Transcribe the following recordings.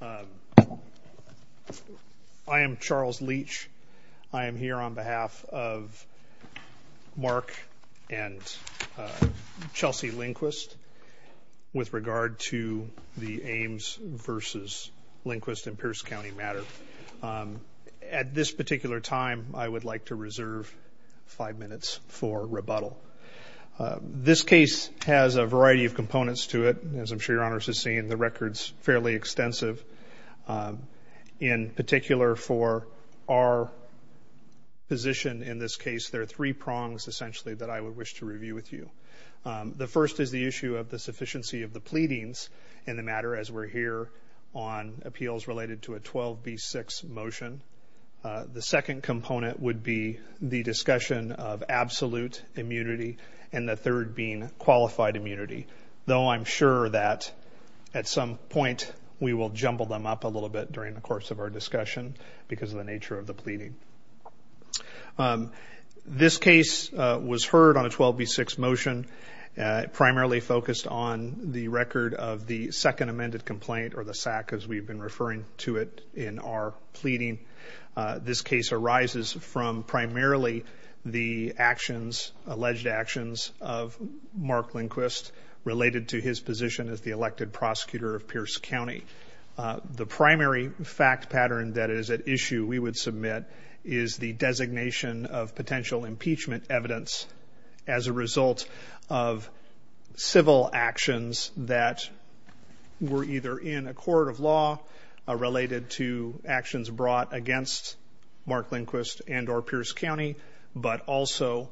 I am Charles Leach. I am here on behalf of Mark and Chelsea Lindquist with regard to the Ames v. Lindquist in Pierce County matter. At this particular time I would like to reserve five minutes for rebuttal. This case has a variety of components to it as I'm sure your honors has seen the records fairly extensive. In particular for our position in this case there are three prongs essentially that I would wish to review with you. The first is the issue of the sufficiency of the pleadings in the matter as we're here on appeals related to a 12b6 motion. The second component would be the discussion of absolute immunity and the third being qualified immunity. Though I'm sure that at some point we will jumble them up a little bit during the course of our discussion because of the nature of the pleading. This case was heard on a 12b6 motion primarily focused on the record of the second amended complaint or the SAC as we've been referring to it in our pleading. This case arises from primarily the actions alleged actions of Mark Lindquist related to his position as the elected prosecutor of Pierce County. The primary fact pattern that is at issue we would submit is the designation of potential impeachment evidence as a result of civil actions that were either in a court of law related to actions brought against Mark Lindquist and or Pierce County but also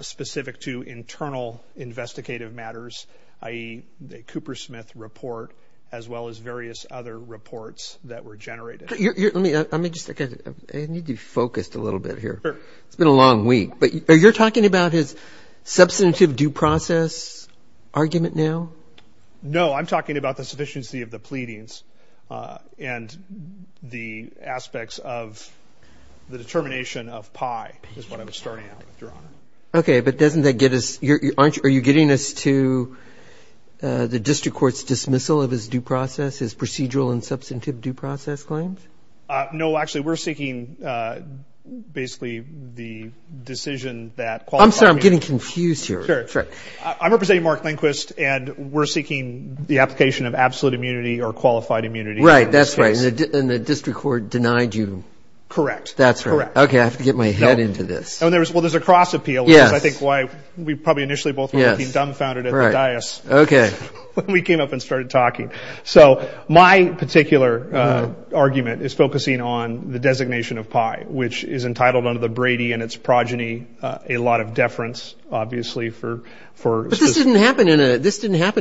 specific to as well as various other reports that were generated. Let me just, I need to be focused a little bit here. It's been a long week but you're talking about his substantive due process argument now? No, I'm talking about the sufficiency of the pleadings and the aspects of the determination of PI is what I'm starting out with, Your Honor. Okay, but doesn't that get us, aren't you getting us to the district court's dismissal of his due process, his procedural and substantive due process claims? No, actually we're seeking basically the decision that qualifies... I'm sorry, I'm getting confused here. Sure, I'm representing Mark Lindquist and we're seeking the application of absolute immunity or qualified immunity. Right, that's right. And the district court denied you. Correct. That's right. Okay, I have to get my head into this. Well, there's a cross appeal, which is I think why we probably initially both were looking dumbfounded at the dais when we came up and started talking. So my particular argument is focusing on the designation of PI, which is entitled under the Brady and its progeny, a lot of deference obviously for... But this didn't happen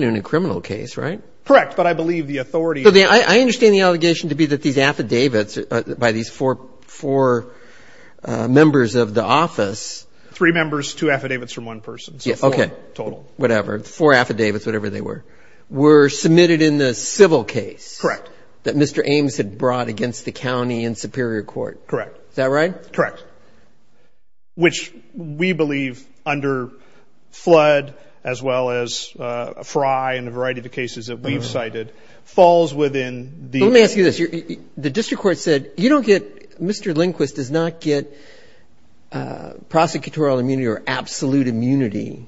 in a criminal case, right? Correct, but I believe the authority... I understand the allegation to be that these affidavits by these four members of the office... Three members, two affidavits from one person, so four total. Whatever, four affidavits, whatever they were, were submitted in the civil case... Correct. ...that Mr. Ames had brought against the county and Superior Court. Correct. Is that right? Correct, which we believe under Flood as well as Fry and a variety of the cases that we've cited falls within the... Let me ask you this. The district court said you don't get... Prosecutorial immunity or absolute immunity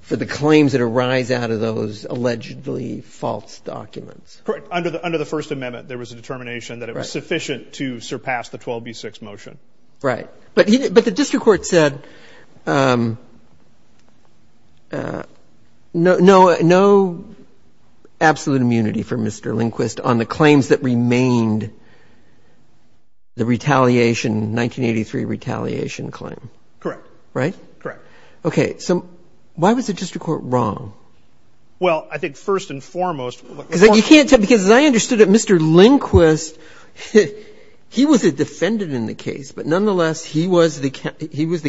for the claims that arise out of those allegedly false documents. Correct, under the First Amendment there was a determination that it was sufficient to surpass the 12b6 motion. Right, but the district court said no absolute immunity for Mr. Lindquist on the claims that remained the retaliation, 1983 retaliation claim. Correct. Right? Correct. Okay, so why was the district court wrong? Well, I think first and foremost... Because you can't tell... Because as I understood it, Mr. Lindquist, he was a defendant in the case, but nonetheless he was the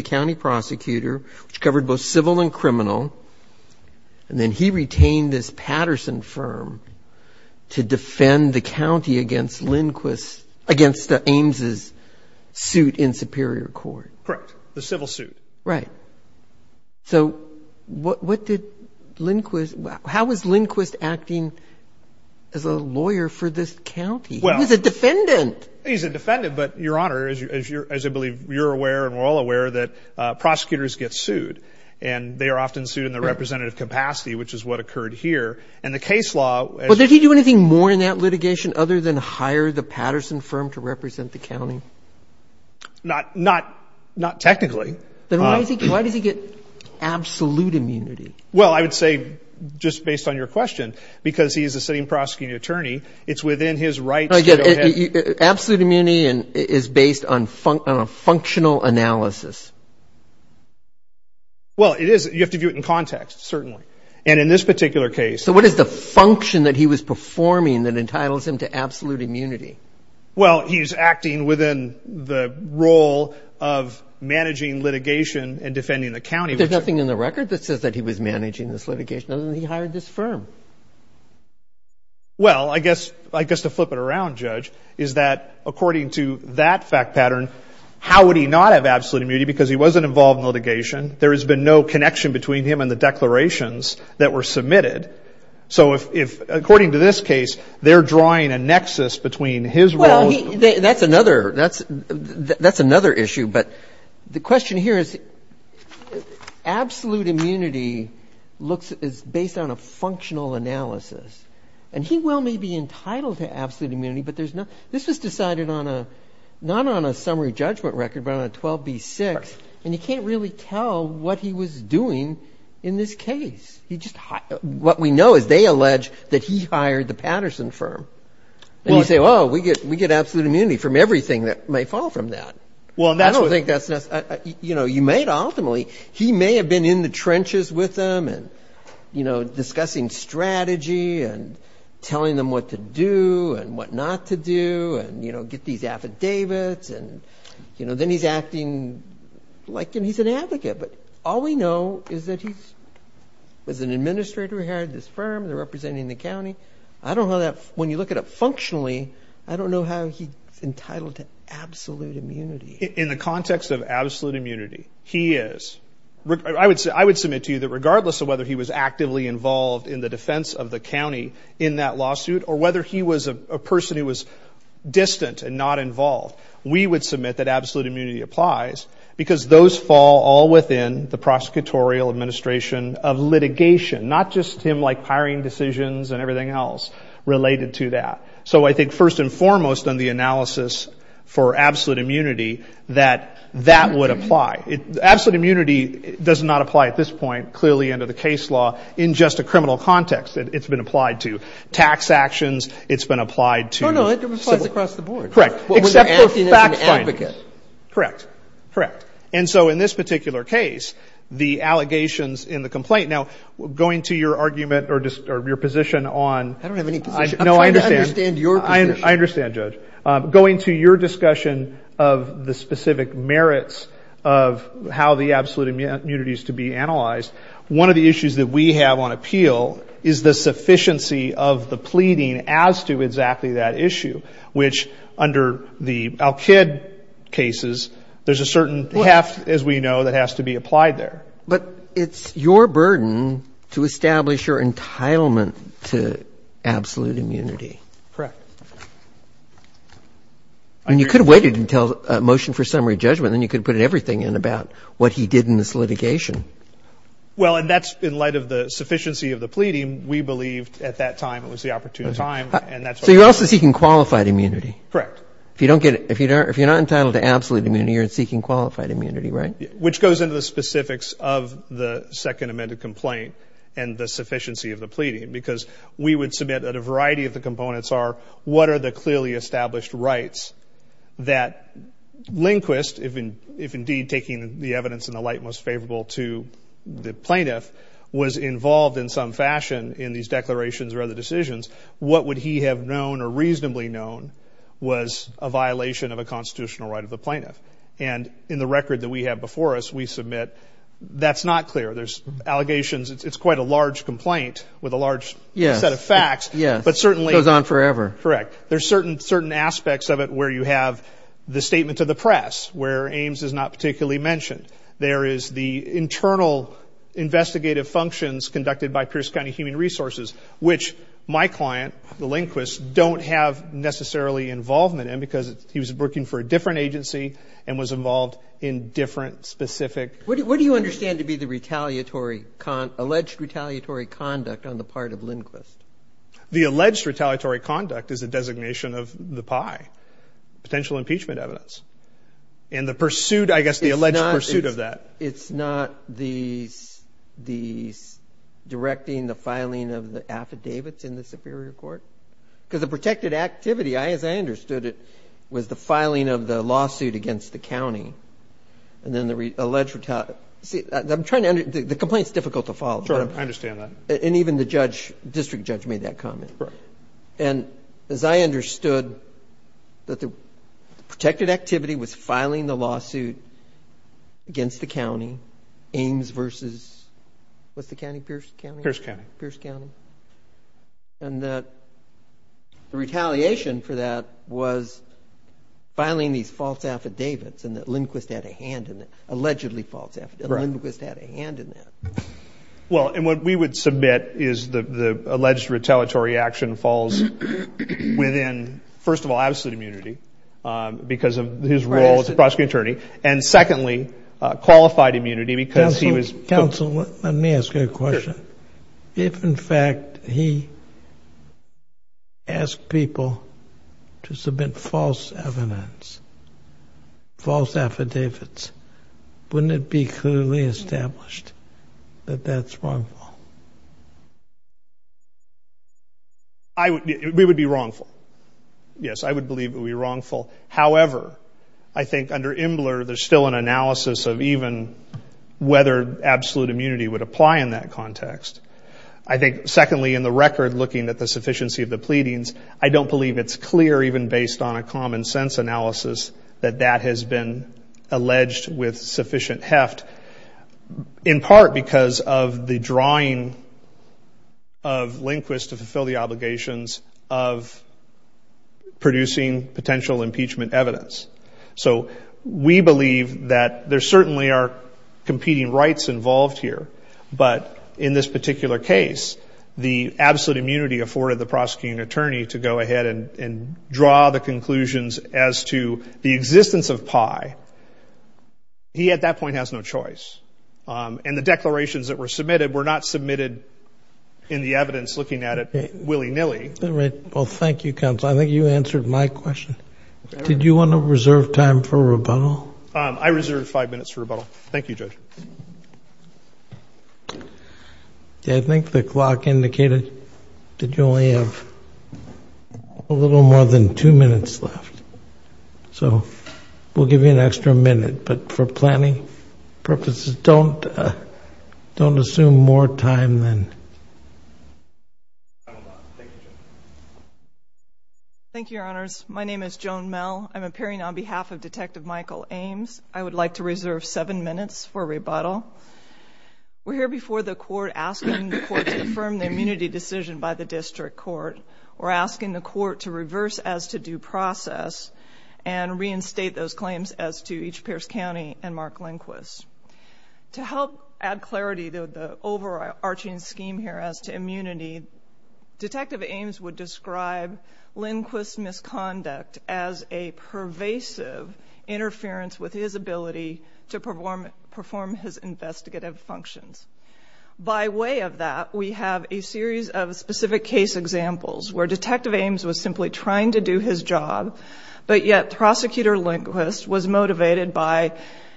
county prosecutor, which covered both civil and criminal, and then he retained this Patterson firm to defend the county against Lindquist, against Ames' suit in Superior Court. Correct, the civil suit. Right. So what did Lindquist... How was Lindquist acting as a lawyer for this county? Well... He was a defendant. He's a defendant, but Your Honor, as I believe you're aware and we're all aware, they are often sued in the representative capacity, which is what occurred here, and the case law... But did he do anything more in that litigation other than hire the Patterson firm to represent the county? Not technically. Then why does he get absolute immunity? Well, I would say, just based on your question, because he is a sitting prosecuting attorney, it's within his rights to go ahead... Absolute immunity is based on functional analysis. Well, it is. You have to view it in context, certainly. And in this particular case... So what is the function that he was performing that entitles him to absolute immunity? Well, he's acting within the role of managing litigation and defending the county... But there's nothing in the record that says that he was managing this litigation other than he hired this firm. Well, I guess to flip it around, Judge, is that according to that fact litigation, there has been no connection between him and the declarations that were submitted. So according to this case, they're drawing a nexus between his role... Well, that's another issue. But the question here is absolute immunity is based on a functional analysis. And he well may be entitled to absolute immunity, but this was decided not on a summary judgment record, but on a 12B6, and you can't really tell what he was doing in this case. What we know is they allege that he hired the Patterson firm. And you say, well, we get absolute immunity from everything that may fall from that. Well, that's what... I don't think that's... You know, you may ultimately... He may have been in the trenches with them and, you know, discussing strategy and telling them what to do and what not to do and, you know, get these affidavits and, you know, then he's acting like he's an advocate. But all we know is that he was an administrator who hired this firm. They're representing the county. I don't know how that... When you look at it functionally, I don't know how he's entitled to absolute immunity. In the context of absolute immunity, he is. I would submit to you that regardless of whether he was actively involved in the defense of the county in that lawsuit or whether he was a person who was distant and not involved, we would submit that absolute immunity applies because those fall all within the prosecutorial administration of litigation, not just him like hiring decisions and everything else related to that. So I think first and foremost on the analysis for absolute immunity that that would apply. Absolute immunity does not apply at this point, clearly under the case law, in just a criminal context. It's been applied to tax actions. It's been applied to... Correct. Except for fact findings. Correct. Correct. And so in this particular case, the allegations in the complaint... Now, going to your argument or your position on... I don't have any position. No, I understand. I'm trying to understand your position. I understand, Judge. Going to your discussion of the specific merits of how the absolute immunity is to be analyzed, one of the issues that we have on appeal is the sufficiency of the pleading as to exactly that issue, which under the Al-Kid cases, there's a certain heft, as we know, that has to be applied there. But it's your burden to establish your entitlement to absolute immunity. Correct. And you could have waited until a motion for summary judgment, then you could have put everything in about what he did in this litigation. Well, and that's in light of the sufficiency of the pleading. We believed at that time it was the opportune time, and that's what... So you're also seeking qualified immunity. Correct. If you don't get... If you're not entitled to absolute immunity, you're seeking qualified immunity, right? Which goes into the specifics of the second amended complaint and the sufficiency of the pleading, because we would submit that a variety of the components are what are the clearly established rights that Lindquist, if indeed taking the evidence in the light most favorable to the plaintiff, was involved in some fashion in these declarations or other decisions, what would he have known or reasonably known was a violation of a constitutional right of the plaintiff? And in the record that we have before us, we submit that's not clear. There's allegations. It's quite a large complaint with a large set of facts, but certainly... Goes on forever. Correct. There's certain aspects of it where you have the statement to the press, where it's not particularly mentioned. There is the internal investigative functions conducted by Pierce County Human Resources, which my client, the Lindquist, don't have necessarily involvement in because he was working for a different agency and was involved in different specific... What do you understand to be the retaliatory... Alleged retaliatory conduct on the part of Lindquist? The alleged retaliatory conduct is a designation of the pie, potential impeachment evidence. And the pursuit, I guess, the alleged pursuit of that. It's not the directing the filing of the affidavits in the Superior Court? Because the protected activity, as I understood it, was the filing of the lawsuit against the county. And then the alleged retaliatory... See, I'm trying to... The complaint's difficult to follow. Sure, I understand that. And even the district judge made that comment. Correct. And as I understood, that the protected activity was filing the lawsuit against the county, Ames versus... What's the county? Pierce County? Pierce County. Pierce County. And that the retaliation for that was filing these false affidavits, and that Lindquist had a hand in it. Allegedly false affidavits. Lindquist had a hand in that. Well, and what we would submit is the alleged retaliatory action falls within, first of all, absolute immunity because of his role as a prosecuting attorney, and secondly, qualified immunity because he was... Counsel, let me ask you a question. If, in fact, he asked people to submit false evidence, false affidavits, wouldn't it be clearly established that that's wrongful? We would be wrongful. Yes, I would believe it would be wrongful. However, I think under Imbler there's still an analysis of even whether absolute immunity would apply in that context. I think, secondly, in the record, looking at the sufficiency of the pleadings, I don't believe it's clear, even based on a common sense analysis, that that has been alleged with sufficient heft, in part because of the drawing of Lindquist to fulfill the obligations of producing potential impeachment evidence. So we believe that there certainly are competing rights involved here, but in this particular case, the absolute immunity afforded the prosecuting attorney to go ahead and draw the conclusions as to the existence of Pai, he at that point has no choice. And the declarations that were submitted were not submitted in the evidence, looking at it willy-nilly. All right. Well, thank you, Counsel. I think you answered my question. Did you want to reserve time for rebuttal? I reserved five minutes for rebuttal. Thank you, Judge. I think the clock indicated that you only have a little more than two minutes left. So we'll give you an extra minute. But for planning purposes, don't assume more time than... Thank you, Your Honors. My name is Joan Mell. I'm appearing on behalf of Detective Michael Ames. I would like to reserve seven minutes for rebuttal. We're here before the court asking the court to affirm the immunity decision by the district court. We're asking the court to reverse as to due process and reinstate those claims as to each Pierce County and Mark Lindquist. To help add clarity to the overarching scheme here as to immunity, Detective Ames would describe Lindquist's misconduct as a pervasive interference with his ability to perform his investigative functions. By way of that, we have a series of specific case examples where Detective Ames was simply trying to do his job, but yet Prosecutor Lindquist was motivated by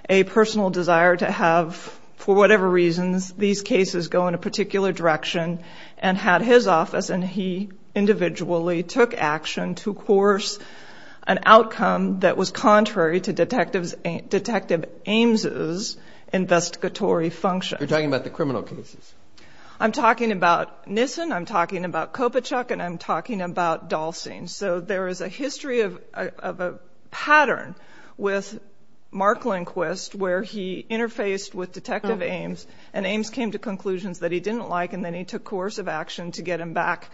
a personal desire to have, for whatever reasons, these cases go in a particular direction, and had his office, and he individually took action to course an outcome that was contrary to Detective Ames' investigatory function. You're talking about the criminal cases. I'm talking about Nissen, I'm talking about Kopachuck, and I'm talking about Dahlstein. So there is a history of a pattern with Mark Lindquist where he interfaced with Detective Ames, and Ames came to conclusions that he didn't like, and then he took coercive action to get him back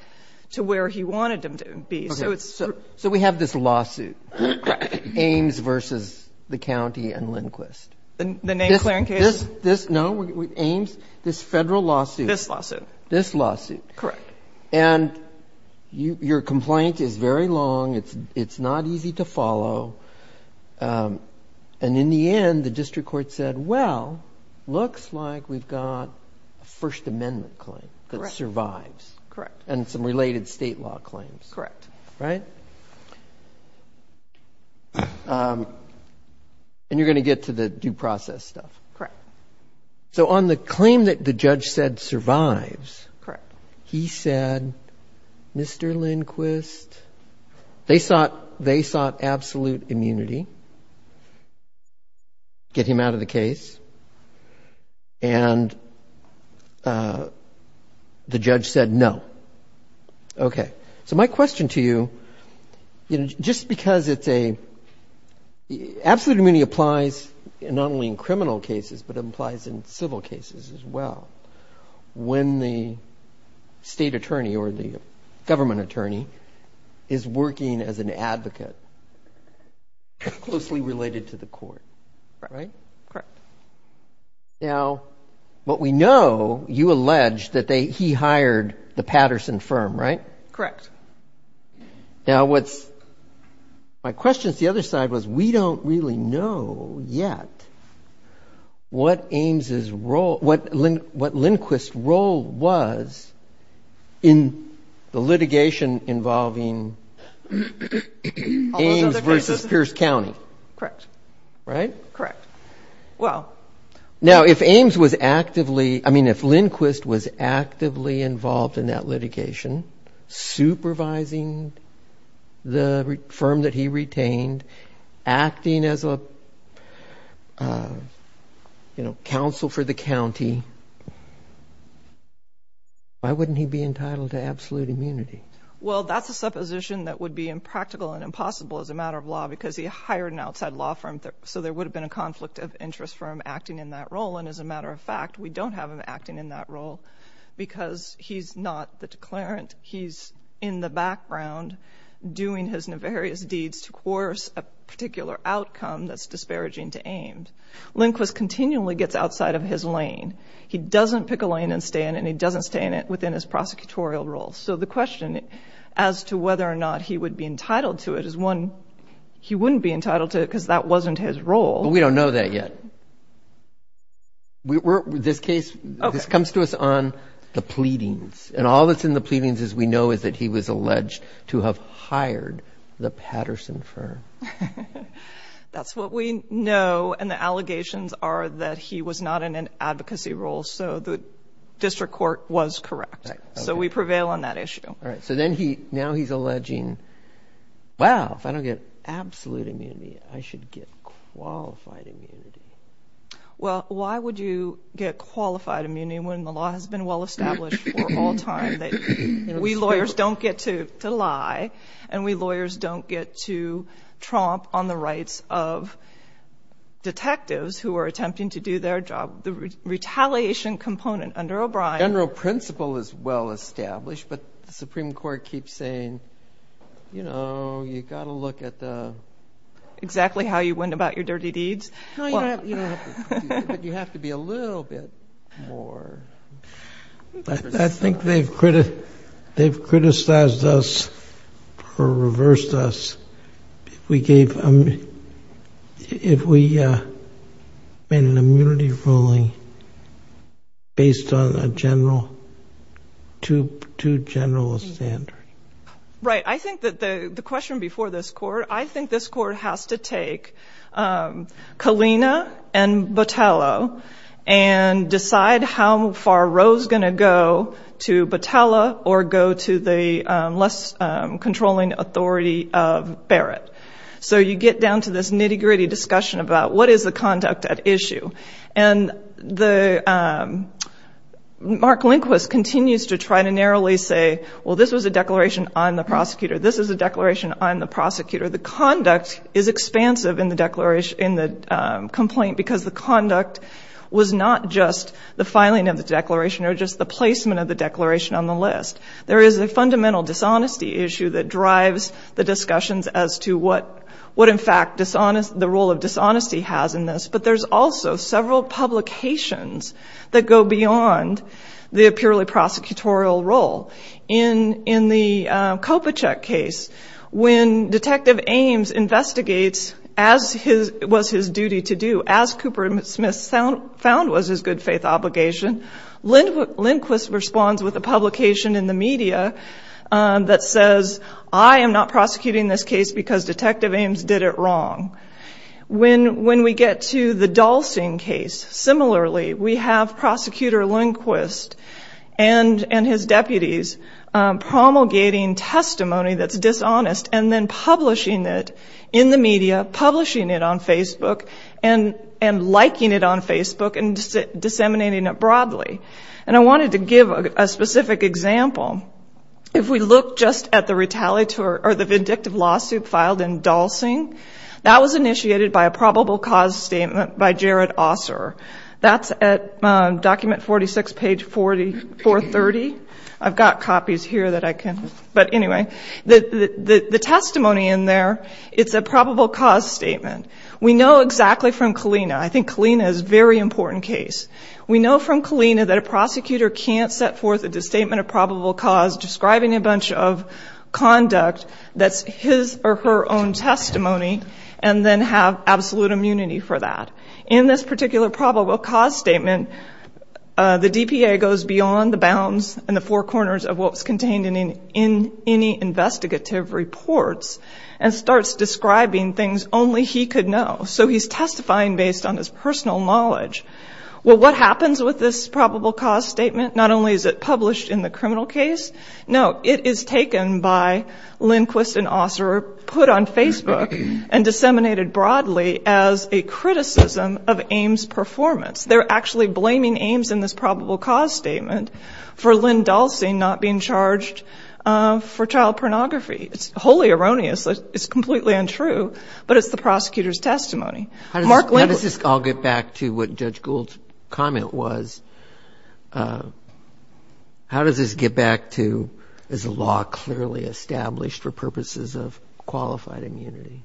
to where he wanted him to be. So it's true. Okay. So we have this lawsuit, Ames v. the County and Lindquist. The name-clearing case? This, no, Ames, this Federal lawsuit. This lawsuit. This lawsuit. Correct. And your complaint is very long. It's not easy to follow. And in the end, the district court said, well, looks like we've got a First Amendment claim that survives. Correct. And some related state law claims. Correct. Right? And you're going to get to the due process stuff. Correct. So on the claim that the judge said survives, he said, Mr. Lindquist, they sought absolute immunity, get him out of the case, and the judge said no. Okay. So my question to you, you know, just because it's a, absolute immunity applies not only in criminal cases, but it applies in civil cases as well. When the state attorney or the government attorney is working as an advocate, closely related to the court. Right? Correct. Now, what we know, you allege that he hired the Patterson firm, right? Correct. Now, my question to the other side was, we don't really know yet what Ames' role, what Lindquist's role was in the litigation involving Ames versus Pierce County. Correct. Right? Correct. Well. Now, if Ames was actively, I mean, if Lindquist was actively involved in that litigation, supervising the firm that he retained, acting as a, you know, counsel for the county, why wouldn't he be entitled to absolute immunity? Well, that's a supposition that would be impractical and impossible as a matter of law because he hired an outside law firm. So there would have been a conflict of interest for him acting in that role. And as a matter of fact, we don't have him acting in that role because he's not the declarant. He's in the background doing his nefarious deeds to course a particular outcome that's disparaging to Ames. Lindquist continually gets outside of his lane. He doesn't pick a lane and stay in it, and he doesn't stay in it within his prosecutorial role. So the question as to whether or not he would be entitled to it is one, he wouldn't be entitled to it because that wasn't his role. But we don't know that yet. This case, this comes to us on the pleadings and all that's in the pleadings as we know is that he was alleged to have hired the Patterson firm. That's what we know. And the allegations are that he was not in an advocacy role. So the district court was correct. So we prevail on that issue. All right. So then he, now he's alleging, wow, if I don't get absolute immunity, I should get qualified immunity. Well, why would you get qualified immunity when the law has been well established for all time? We lawyers don't get to lie and we lawyers don't get to tromp on the rights of detectives who are attempting to do their job. The retaliation component under O'Brien. General principle is well established, but the Supreme Court keeps saying, you know, you got to look at the exactly how you went about your dirty deeds. You have to be a little bit more. I think they've, they've criticized us or reversed us. We gave him, if we made an immunity ruling based on a general, two, two generalist standard. I think that the, the question before this court, I think this court has to take Kalina and Botelho and decide how far Rose going to go to Botelho or go to the less controlling authority of Barrett. So you get down to this nitty gritty discussion about what is the conduct at issue and the Mark Lindquist continues to try to narrowly say, this was a declaration on the prosecutor. This is a declaration on the prosecutor. The conduct is expansive in the declaration in the complaint because the conduct was not just the filing of the declaration or just the placement of the declaration on the list. There is a fundamental dishonesty issue that drives the discussions as to what, what in fact dishonest, the role of dishonesty has in this, but there's also several publications that go beyond the purely prosecutorial role in, in the Copa check case when detective Ames investigates as his, it was his duty to do as Cooper Smith sound found was his good faith obligation. Linda Lindquist responds with a publication in the media that says, I am not prosecuting this case because detective Ames did it wrong. When, when we get to the Dalston case, similarly, we have prosecutor Lindquist and, and his deputies promulgating testimony that's dishonest and then publishing it in the media, publishing it on Facebook and, and liking it on Facebook and disseminating it broadly. And I wanted to give a specific example. If we look just at the retaliatory or the vindictive lawsuit filed in Dalston, that was initiated by a probable cause statement by Jared Osler. That's at document 46, page 4430. I've got copies here that I can, but anyway, the, the, the testimony in there, it's a probable cause statement. We know exactly from Kalina. I think Kalina is very important case. We know from Kalina that a prosecutor can't set forth a disstatement of probable cause describing a bunch of conduct that's his or her own testimony and then have absolute immunity for that. In this particular probable cause statement, the DPA goes beyond the bounds and the four corners of what was contained in any investigative reports and starts describing things only he could know. So he's testifying based on his personal knowledge. Well, what happens with this probable cause statement? Not only is it published in the criminal case, no, it is taken by Lindquist and Osler, put on Facebook and disseminated broadly as a criticism of Ames performance. They're actually blaming Ames in this probable cause statement for Lynn Dalcy not being charged for child pornography. It's wholly erroneous. It's completely untrue, but it's the prosecutor's testimony. Mark Lindquist. I'll get back to what Judge Gould's comment was. How does this get back to, is the law clearly established for purposes of qualified immunity?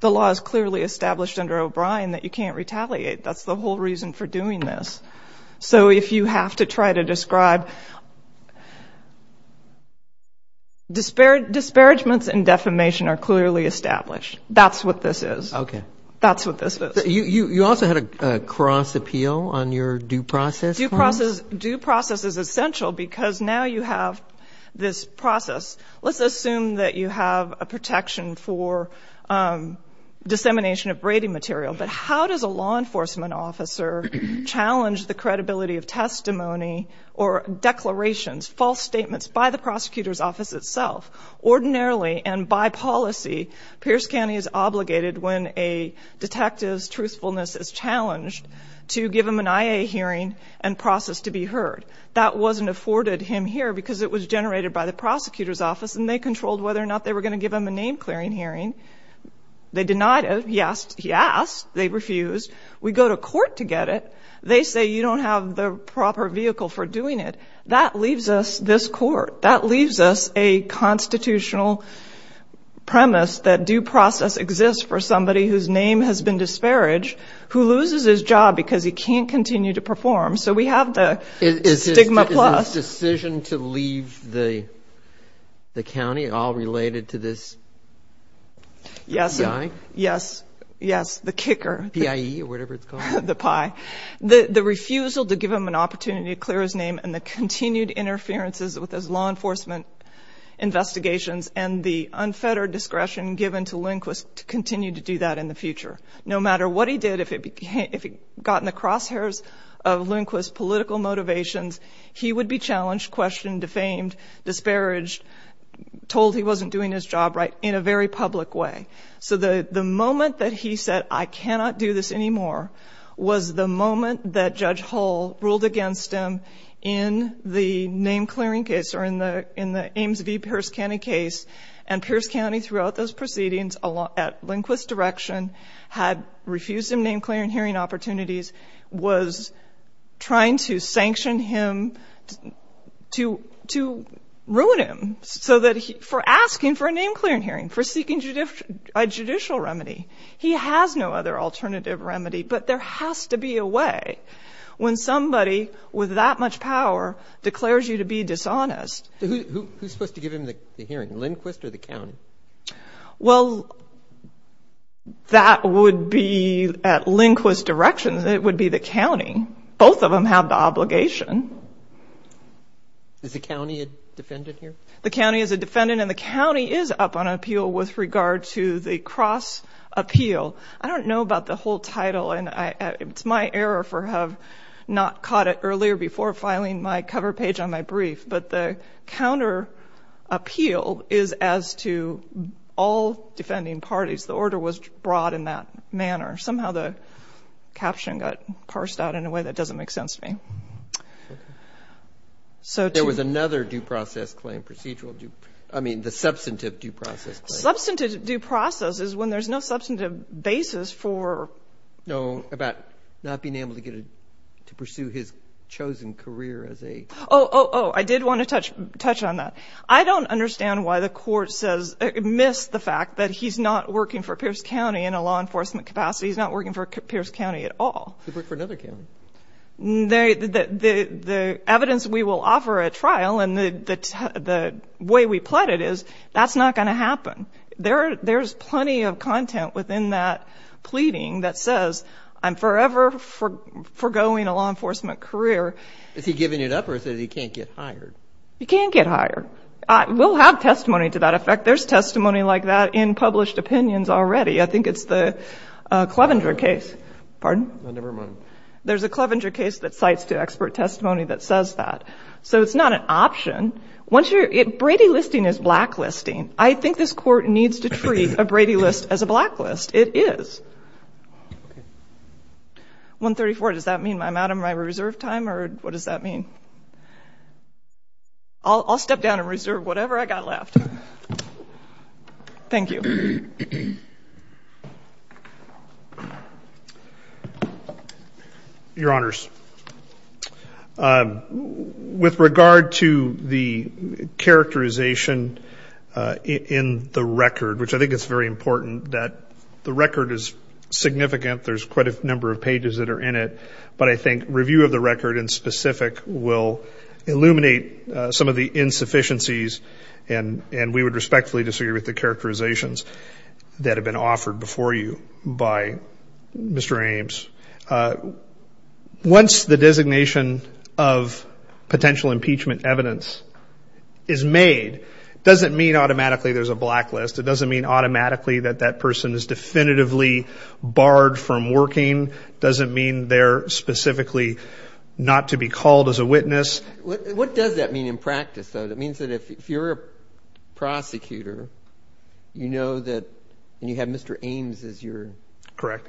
The law is clearly established under O'Brien that you can't retaliate. That's the whole reason for doing this. So if you have to try to describe, disparagements and defamation are clearly established. That's what this is. Okay. That's what this is. You also had a cross appeal on your due process. Due process is essential because now you have this process. Let's assume that you have a protection for dissemination of braiding material, but how does a law enforcement officer challenge the credibility of testimony or declarations, false statements by the prosecutor's office itself? Ordinarily and by policy, to give him an IA hearing and process to be heard. That wasn't afforded him here because it was generated by the prosecutor's office and they controlled whether or not they were going to give him a name clearing hearing. They denied it. He asked. He asked. They refused. We go to court to get it. They say, you don't have the proper vehicle for doing it. That leaves us this court. That leaves us a constitutional premise that due process exists for somebody whose name has been disparaged, who loses his job because he can't continue to perform. So we have the stigma plus. Is his decision to leave the county all related to this? Yes. Yes. The kicker. PIE or whatever it's called. The PIE. The refusal to give him an opportunity to clear his name and the continued interferences with his law enforcement investigations and the unfettered discretion given to Lindquist to continue to do that in the future. No matter what he did, if it got in the crosshairs of Lindquist's political motivations, he would be challenged, questioned, defamed, disparaged, told he wasn't doing his job right in a very public way. So the moment that he said, I cannot do this anymore was the moment that Judge Hull ruled against him in the name clearing case or in the Ames v. Pierce County case. And Pierce County throughout those proceedings at Lindquist's direction had refused him name clearing hearing opportunities, was trying to sanction him to ruin him for asking for a name clearing hearing, for seeking a judicial remedy. He has no other alternative remedy, but there has to be a way when somebody with that much power declares you to be dishonest. Who's supposed to give him the hearing, Lindquist or the county? Well, that would be at Lindquist's direction. It would be the county. Both of them have the obligation. Is the county a defendant here? The county is a defendant, and the county is up on appeal with regard to the cross appeal. I don't know about the whole title, and it's my error for have not caught it earlier before filing my cover page on my brief. But the counter appeal is as to all defending parties. The order was brought in that manner. Somehow the caption got parsed out in a way that doesn't make sense to me. There was another due process claim, procedural due – I mean the substantive due process claim. Substantive due process is when there's no substantive basis for – No, about not being able to pursue his chosen career as a – Oh, oh, oh, I did want to touch on that. I don't understand why the court says – missed the fact that he's not working for Pierce County in a law enforcement capacity. He's not working for Pierce County at all. He worked for another county. The evidence we will offer at trial and the way we plot it is that's not going to happen. There's plenty of content within that pleading that says, I'm forever foregoing a law enforcement career. Is he giving it up or is it he can't get hired? He can't get hired. We'll have testimony to that effect. There's testimony like that in published opinions already. I think it's the Clevenger case. Pardon? Never mind. There's a Clevenger case that cites to expert testimony that says that. So it's not an option. Brady listing is blacklisting. I think this Court needs to treat a Brady list as a blacklist. It is. Okay. I'm not sure what does that mean. I'll step down and reserve whatever I've got left. Thank you. Your Honors, with regard to the characterization in the record, which I think it's very important that the record is significant. There's quite a number of pages that are in it. But I think review of the record in specific will illuminate some of the insufficiencies and we would respectfully disagree with the characterizations that have been offered before you by Mr. Ames. Once the designation of potential impeachment evidence is made, it doesn't mean automatically there's a blacklist. It doesn't mean automatically that that person is definitively barred from working. It doesn't mean they're specifically not to be called as a witness. What does that mean in practice, though? It means that if you're a prosecutor, you know that you have Mr. Ames as your. Correct.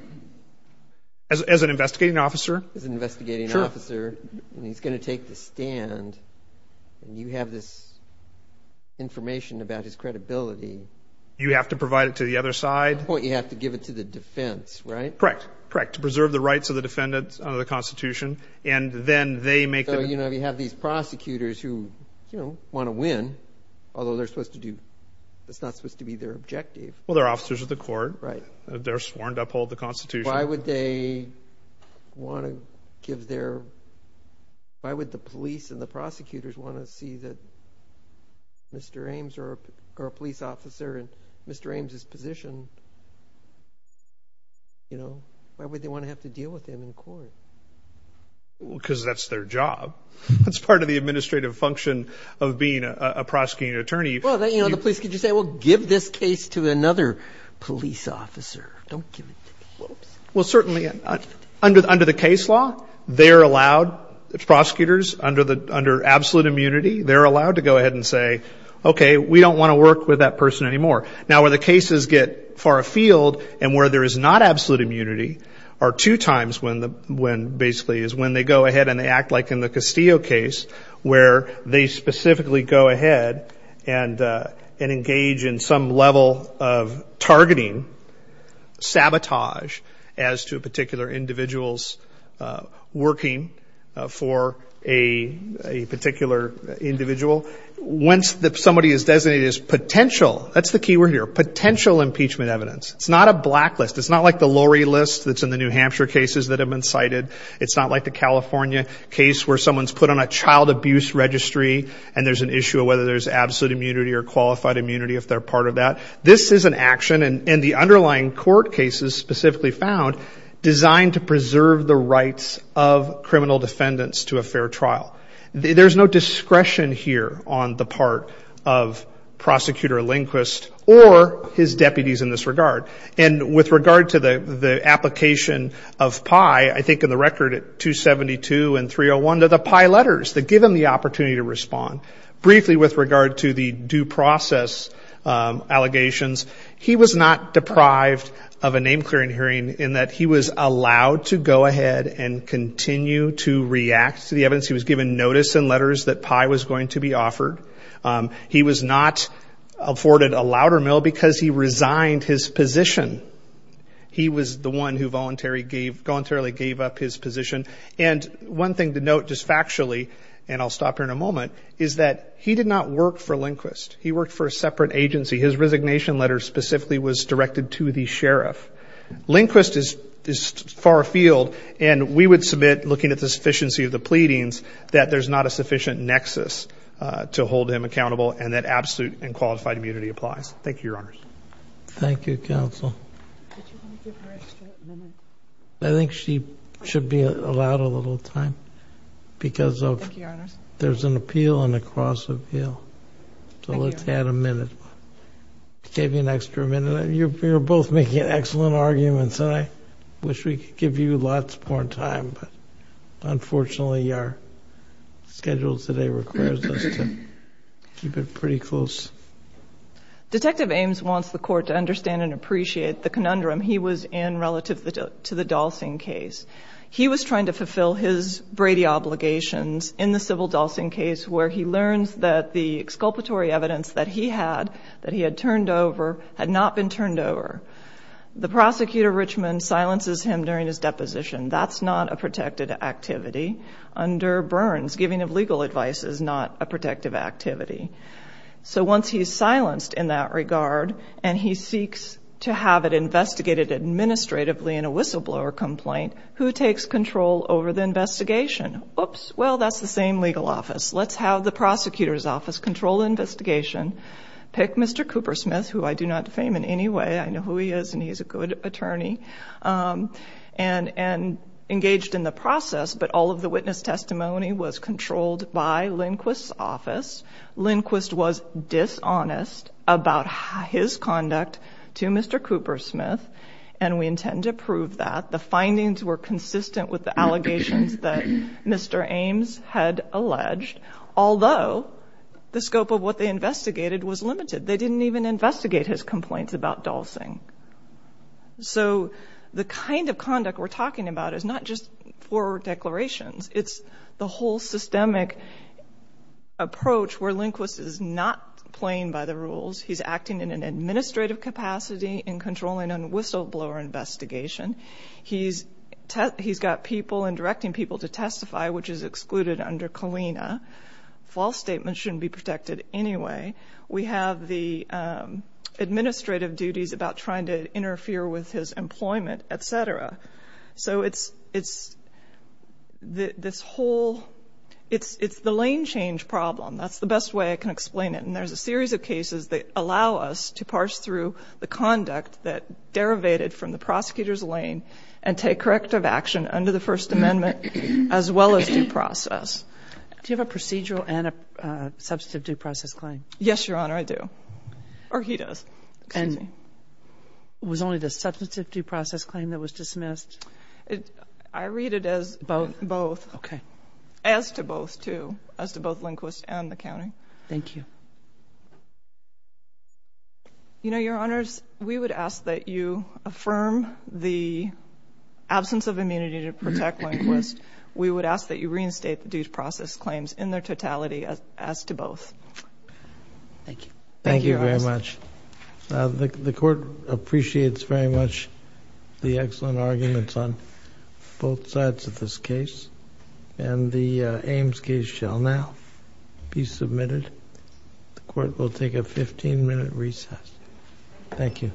As an investigating officer. As an investigating officer. Sure. And he's going to take the stand and you have this information about his credibility. You have to provide it to the other side. You have to give it to the defense, right? Correct. Correct. To preserve the rights of the defendants under the Constitution. And then they make the. So, you know, you have these prosecutors who, you know, want to win, although they're supposed to do. It's not supposed to be their objective. Well, they're officers of the court. Right. They're sworn to uphold the Constitution. Why would they want to give their. Why would the police and the prosecutors want to see that Mr. Ames or a police officer in Mr. Ames' position, you know, why would they want to have to deal with him in court? Because that's their job. That's part of the administrative function of being a prosecuting attorney. Well, you know, the police can just say, well, give this case to another police officer. Don't give it to me. Well, certainly under the case law, they're allowed, prosecutors, under absolute immunity, they're allowed to go ahead and say, okay, we don't want to work with that person anymore. Now, where the cases get far afield and where there is not absolute immunity are two times when basically is when they go ahead and they act like in the Castillo case where they specifically go ahead and engage in some level of targeting, sabotage as to particular individuals working for a particular individual. Once somebody is designated as potential, that's the key word here, potential impeachment evidence. It's not a blacklist. It's not like the lorry list that's in the New Hampshire cases that have been cited. It's not like the California case where someone's put on a child abuse registry and there's an issue of whether there's absolute immunity or qualified immunity if they're part of that. This is an action, and the underlying court cases specifically found, designed to preserve the rights of criminal defendants to a fair trial. There's no discretion here on the part of Prosecutor Lindquist or his deputies in this regard. And with regard to the application of PI, I think in the record at 272 and 301, they're the PI letters that give them the opportunity to respond. Briefly with regard to the due process allegations, he was not deprived of a name-clearing hearing in that he was allowed to go ahead and continue to react to the evidence. He was given notice in letters that PI was going to be offered. He was not afforded a louder mill because he resigned his position. He was the one who voluntarily gave up his position. And one thing to note just factually, and I'll stop here in a moment, is that he did not work for Lindquist. He worked for a separate agency. His resignation letter specifically was directed to the sheriff. Lindquist is far afield, and we would submit, looking at the sufficiency of the pleadings, that there's not a sufficient nexus to hold him accountable and that absolute and qualified immunity applies. Thank you, Your Honors. Thank you, Counsel. Did you want to give her an extra minute? I think she should be allowed a little time because of there's an appeal and a cross-appeal. So let's add a minute. I gave you an extra minute. You're both making excellent arguments, and I wish we could give you lots more time, but unfortunately our schedule today requires us to keep it pretty close. Detective Ames wants the court to understand and appreciate the conundrum he was in relative to the Dalsing case. He was trying to fulfill his Brady obligations in the civil Dalsing case where he learns that the exculpatory evidence that he had, that he had turned over, had not been turned over. The prosecutor, Richmond, silences him during his deposition. That's not a protected activity. Under Burns, giving of legal advice is not a protective activity. So once he's silenced in that regard and he seeks to have it investigated administratively in a whistleblower complaint, who takes control over the investigation? Oops, well, that's the same legal office. Let's have the prosecutor's office control the investigation, pick Mr. Coopersmith, who I do not defame in any way. I know who he is and he's a good attorney, and engaged in the process. But all of the witness testimony was controlled by Lindquist's office. Lindquist was dishonest about his conduct to Mr. Coopersmith, and we intend to prove that. The findings were consistent with the allegations that Mr. Ames had alleged, although the scope of what they investigated was limited. They didn't even investigate his complaints about dulsing. So the kind of conduct we're talking about is not just forward declarations. It's the whole systemic approach where Lindquist is not playing by the rules. He's acting in an administrative capacity in controlling a whistleblower investigation. He's got people and directing people to testify, which is excluded under Colina. False statements shouldn't be protected anyway. We have the administrative duties about trying to interfere with his employment, et cetera. So it's this whole – it's the lane change problem. That's the best way I can explain it. And there's a series of cases that allow us to parse through the conduct that derivated from the prosecutor's lane and take corrective action under the First Amendment as well as due process. Do you have a procedural and a substantive due process claim? Yes, Your Honor, I do. Or he does. Excuse me. And was only the substantive due process claim that was dismissed? I read it as both. Okay. As to both, too, as to both Lindquist and the county. Thank you. You know, Your Honors, we would ask that you affirm the absence of immunity to protect Lindquist. We would ask that you reinstate the due process claims in their totality as to both. Thank you. Thank you very much. The Court appreciates very much the excellent arguments on both sides of this case. And the Ames case shall now be submitted. The Court will take a 15-minute recess. Thank you.